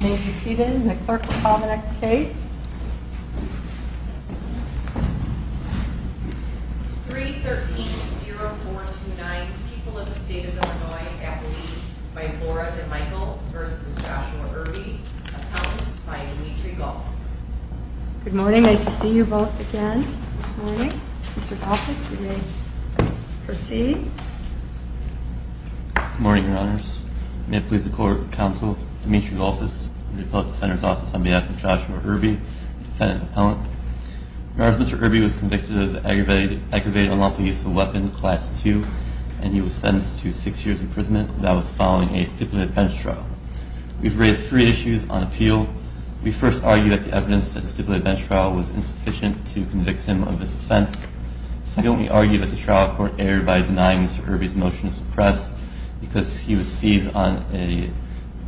May you proceed in the clerk will call the next case. 313-0429 People of the State of Illinois, Appalachia, by Laura DeMichael v. Joshua Irby. Accounts by Dimitri Galtz. Good morning. Nice to see you both again this morning. Mr. Galtz, you may proceed. Good morning, Your Honors. May it please the Court of Counsel, Dimitri Galtz, in the Appellate Defender's Office on behalf of Joshua Irby, defendant-appellant. Your Honors, Mr. Irby was convicted of aggravated unlawful use of a weapon, Class II, and he was sentenced to six years' imprisonment without following a stipulated bench trial. We've raised three issues on appeal. We first argue that the evidence at the stipulated bench trial was insufficient to convict him of this offense. Second, we argue that the trial court erred by denying Mr. Irby's motion to suppress because he was seized on a,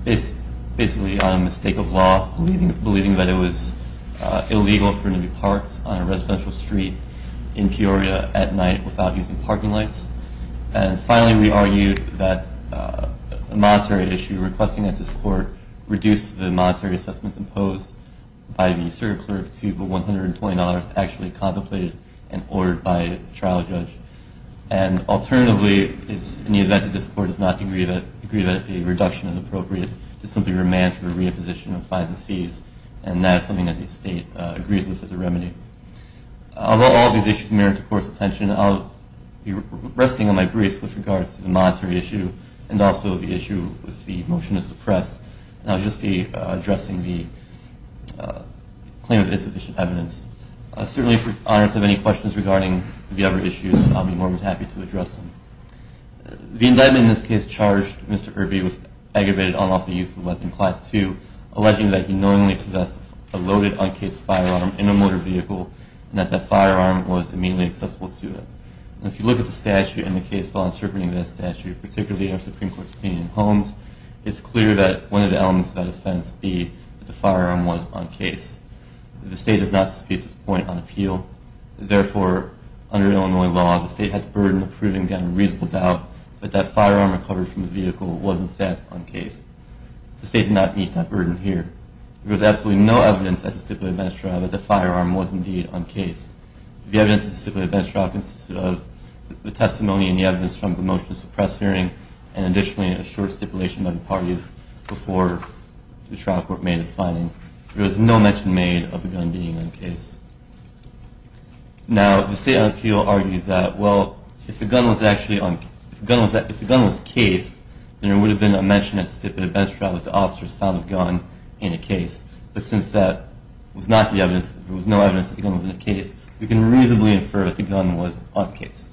basically on a mistake of law, believing that it was illegal for him to be parked on a residential street in Peoria at night without using parking lights. And finally, we argue that a monetary issue requesting that this Court reduce the monetary assessments imposed by the serial clerk to $120 actually contemplated and ordered by a trial judge. And alternatively, in the event that this Court does not agree that a reduction is appropriate, to simply remand for the reimposition of fines and fees, and that is something that the State agrees with as a remedy. Although all of these issues merit the Court's attention, I'll be resting on my brace with regards to the monetary issue and also the issue with the motion to suppress. I'll just be addressing the claim of insufficient evidence. Certainly, if Your Honors have any questions regarding the other issues, I'll be more than happy to address them. The indictment in this case charged Mr. Irby with aggravated, unlawful use of a weapon Class II, alleging that he knowingly possessed a loaded, uncased firearm in a motor vehicle and that that firearm was immediately accessible to him. If you look at the statute and the case law interpreting that statute, particularly our Supreme Court's opinion in Holmes, it's clear that one of the elements of that offense would be that the firearm was uncased. The State does not dispute this point on appeal. Therefore, under Illinois law, the State has burden of proving a reasonable doubt that that firearm recovered from the vehicle was, in fact, uncased. The State does not meet that burden here. There was absolutely no evidence at the stipulated bench trial that the firearm was, indeed, uncased. The evidence at the stipulated bench trial consisted of the testimony and the evidence from the motion to suppress hearing and, additionally, a short stipulation by the parties before the trial court made its finding. There was no mention made of the firearm being uncased. Now, the State on appeal argues that, well, if the firearm was cased, then there would have been a mention at the stipulated bench trial that the officers found the firearm uncased. But since there was no evidence that the firearm was uncased, we can reasonably infer that the firearm was uncased.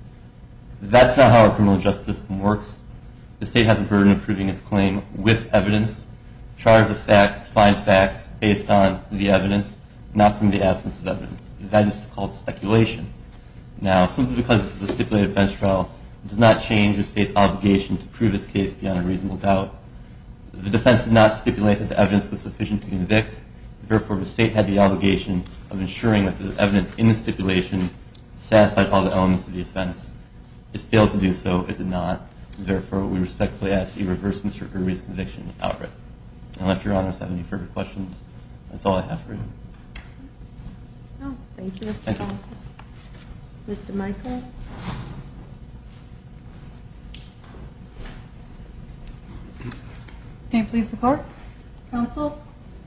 That's not how a criminal justice system works. The State has a burden of proving its claim with evidence. Charters of fact find facts based on the evidence, not from the absence of evidence. That is called speculation. Now, simply because this is a stipulated bench trial, it does not change the State's obligation to prove its case beyond a reasonable doubt. The defense did not stipulate that the evidence was sufficient to convict. Therefore, the State had the obligation of ensuring that the evidence in the stipulation satisfied all the elements of the offense. It failed to do so. It did not. Therefore, we respectfully ask that you reverse Mr. Kirby's conviction outright. I don't know if Your Honor has any further questions. That's all I have for you. Oh, thank you, Mr. Collins. Thank you. Mr. Michael? May it please the Court, Counsel,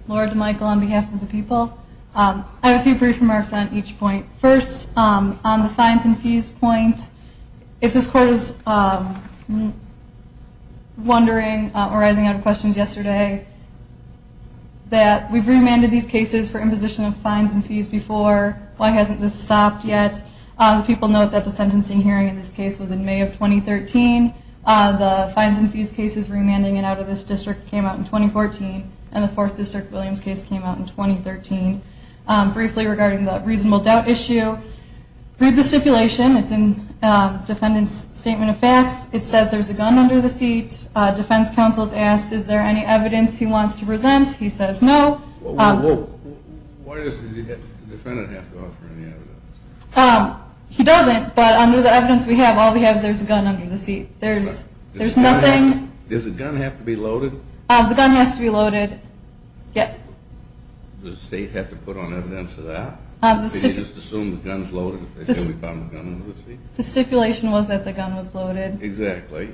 Lord Michael, on behalf of the people. I have a few brief remarks on each point. First, on the fines and fees point, if this Court is wondering or arising out of questions yesterday, that we've remanded these cases for imposition of fines and fees before, why hasn't this stopped yet? People note that the sentencing hearing in this case was in May of 2013. The fines and fees cases remanding and out of this district came out in 2014, and the Fourth District Williams case came out in 2013. Briefly regarding the reasonable doubt issue, read the stipulation. It's in Defendant's Statement of Facts. It says there's a gun under the seat. Defense Counsel has asked, is there any evidence he wants to present? He says no. Why does the defendant have to offer any evidence? He doesn't, but under the evidence we have, all we have is there's a gun under the seat. There's nothing... Does the gun have to be loaded? The gun has to be loaded, yes. Does the State have to put on evidence for that? Did you just assume the gun's loaded? The stipulation was that the gun was loaded. Exactly.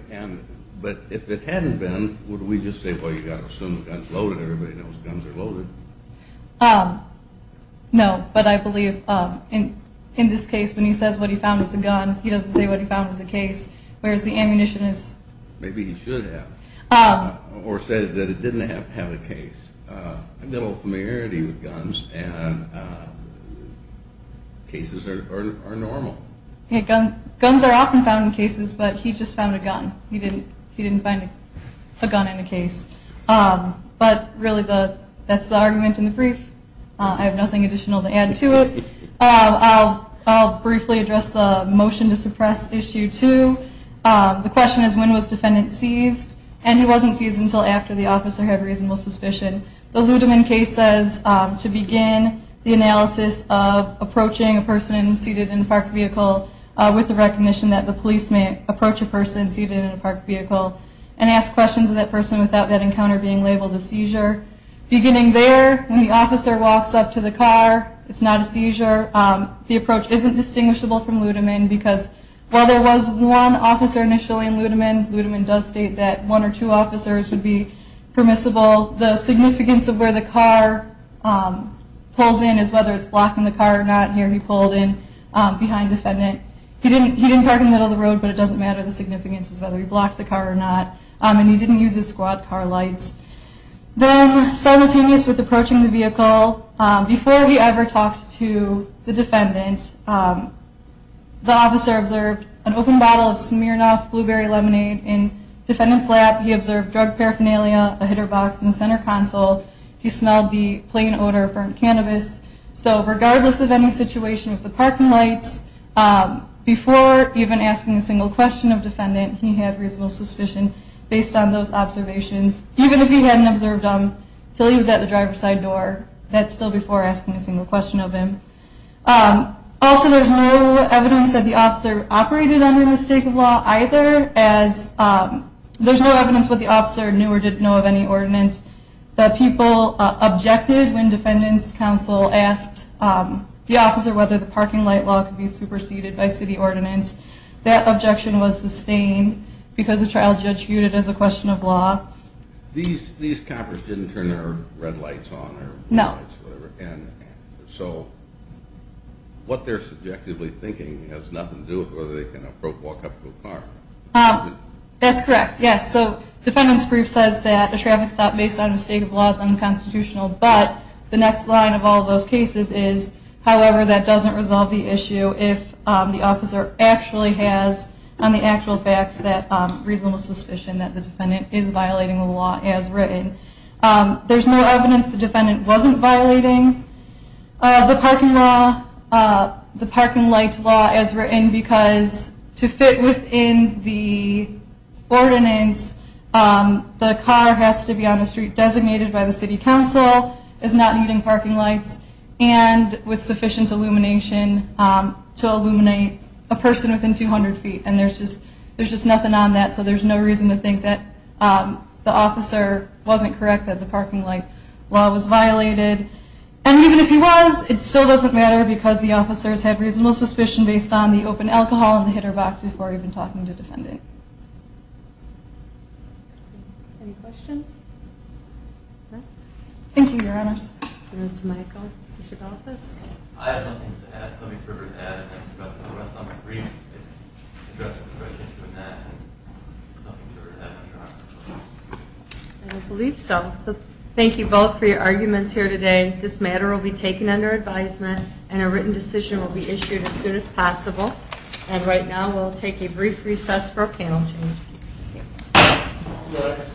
But if it hadn't been, would we just say, well, you've got to assume the gun's loaded, everybody knows guns are loaded? No, but I believe in this case, when he says what he found was a gun, he doesn't say what he found was a case, whereas the ammunition is... Maybe he should have, or said that it didn't have to have a case. I've got a little familiarity with guns, and cases are normal. Guns are often found in cases, but he just found a gun. He didn't find a gun in a case. But really, that's the argument in the brief. I have nothing additional to add to it. I'll briefly address the motion to suppress issue two. The question is when was defendant seized, and he wasn't seized until after the officer had reasonable suspicion. The Ludeman case says to begin the analysis of approaching a person seated in a parked vehicle with the recognition that the police may approach a person seated in a parked vehicle and ask questions of that person without that encounter being labeled a seizure. Beginning there, when the officer walks up to the car, it's not a seizure. The approach isn't distinguishable from Ludeman because while there was one officer initially in Ludeman, Ludeman does state that one or two officers would be permissible. The significance of where the car pulls in is whether it's blocking the car or not. Here he pulled in behind defendant. He didn't park in the middle of the road, but it doesn't matter. The significance is whether he blocked the car or not. He didn't use his squad car lights. Simultaneous with approaching the vehicle, before he ever talked to the defendant, the officer observed an open bottle of Smirnoff Blueberry Lemonade. In defendant's lap, he observed drug paraphernalia, a hitter box in the center console. He smelled the plain odor of burnt cannabis. Regardless of any situation with the parking lights, before even asking a single question of defendant, he had reasonable suspicion based on those observations. Even if he hadn't observed them until he was at the driver's side door, that's still before asking a single question of him. Also, there's no evidence that the officer operated under the state of law either, as there's no evidence what the officer knew or didn't know of any ordinance. The people objected when defendant's counsel asked the officer whether the parking light law could be superseded by city ordinance. That objection was sustained because the trial judge viewed it as a question of law. These coppers didn't turn their red lights on? No. So, what they're subjectively thinking has nothing to do with whether they can walk up to a car? That's correct, yes. So, defendant's brief says that a traffic stop based on a state of law is unconstitutional, but the next line of all those cases is, however, that doesn't resolve the issue if the officer actually has, on the actual facts, that reasonable suspicion that the defendant is violating the law as written. There's no evidence the defendant wasn't violating the parking light law as written because to fit within the ordinance, the car has to be on the street designated by the city council, is not needing parking lights, and with sufficient illumination to illuminate a person within 200 feet. And there's just nothing on that, so there's no reason to think that the officer wasn't correct, that the parking light law was violated. And even if he was, it still doesn't matter because the officers had reasonable suspicion based on the open alcohol in the hitter box before even talking to defendant. Any questions? No? Thank you, your honors. Mr. Michael. Mr. Galapas. I have something to add. Let me refer to that. I think you addressed it in the rest of my brief. It addresses the correct issue in that, and I have something to add to that. I believe so. So, thank you both for your arguments here today. This matter will be taken under advisement, and a written decision will be issued as soon as possible. And right now, we'll take a brief recess for public comment. Thank you for your panel. Thank you.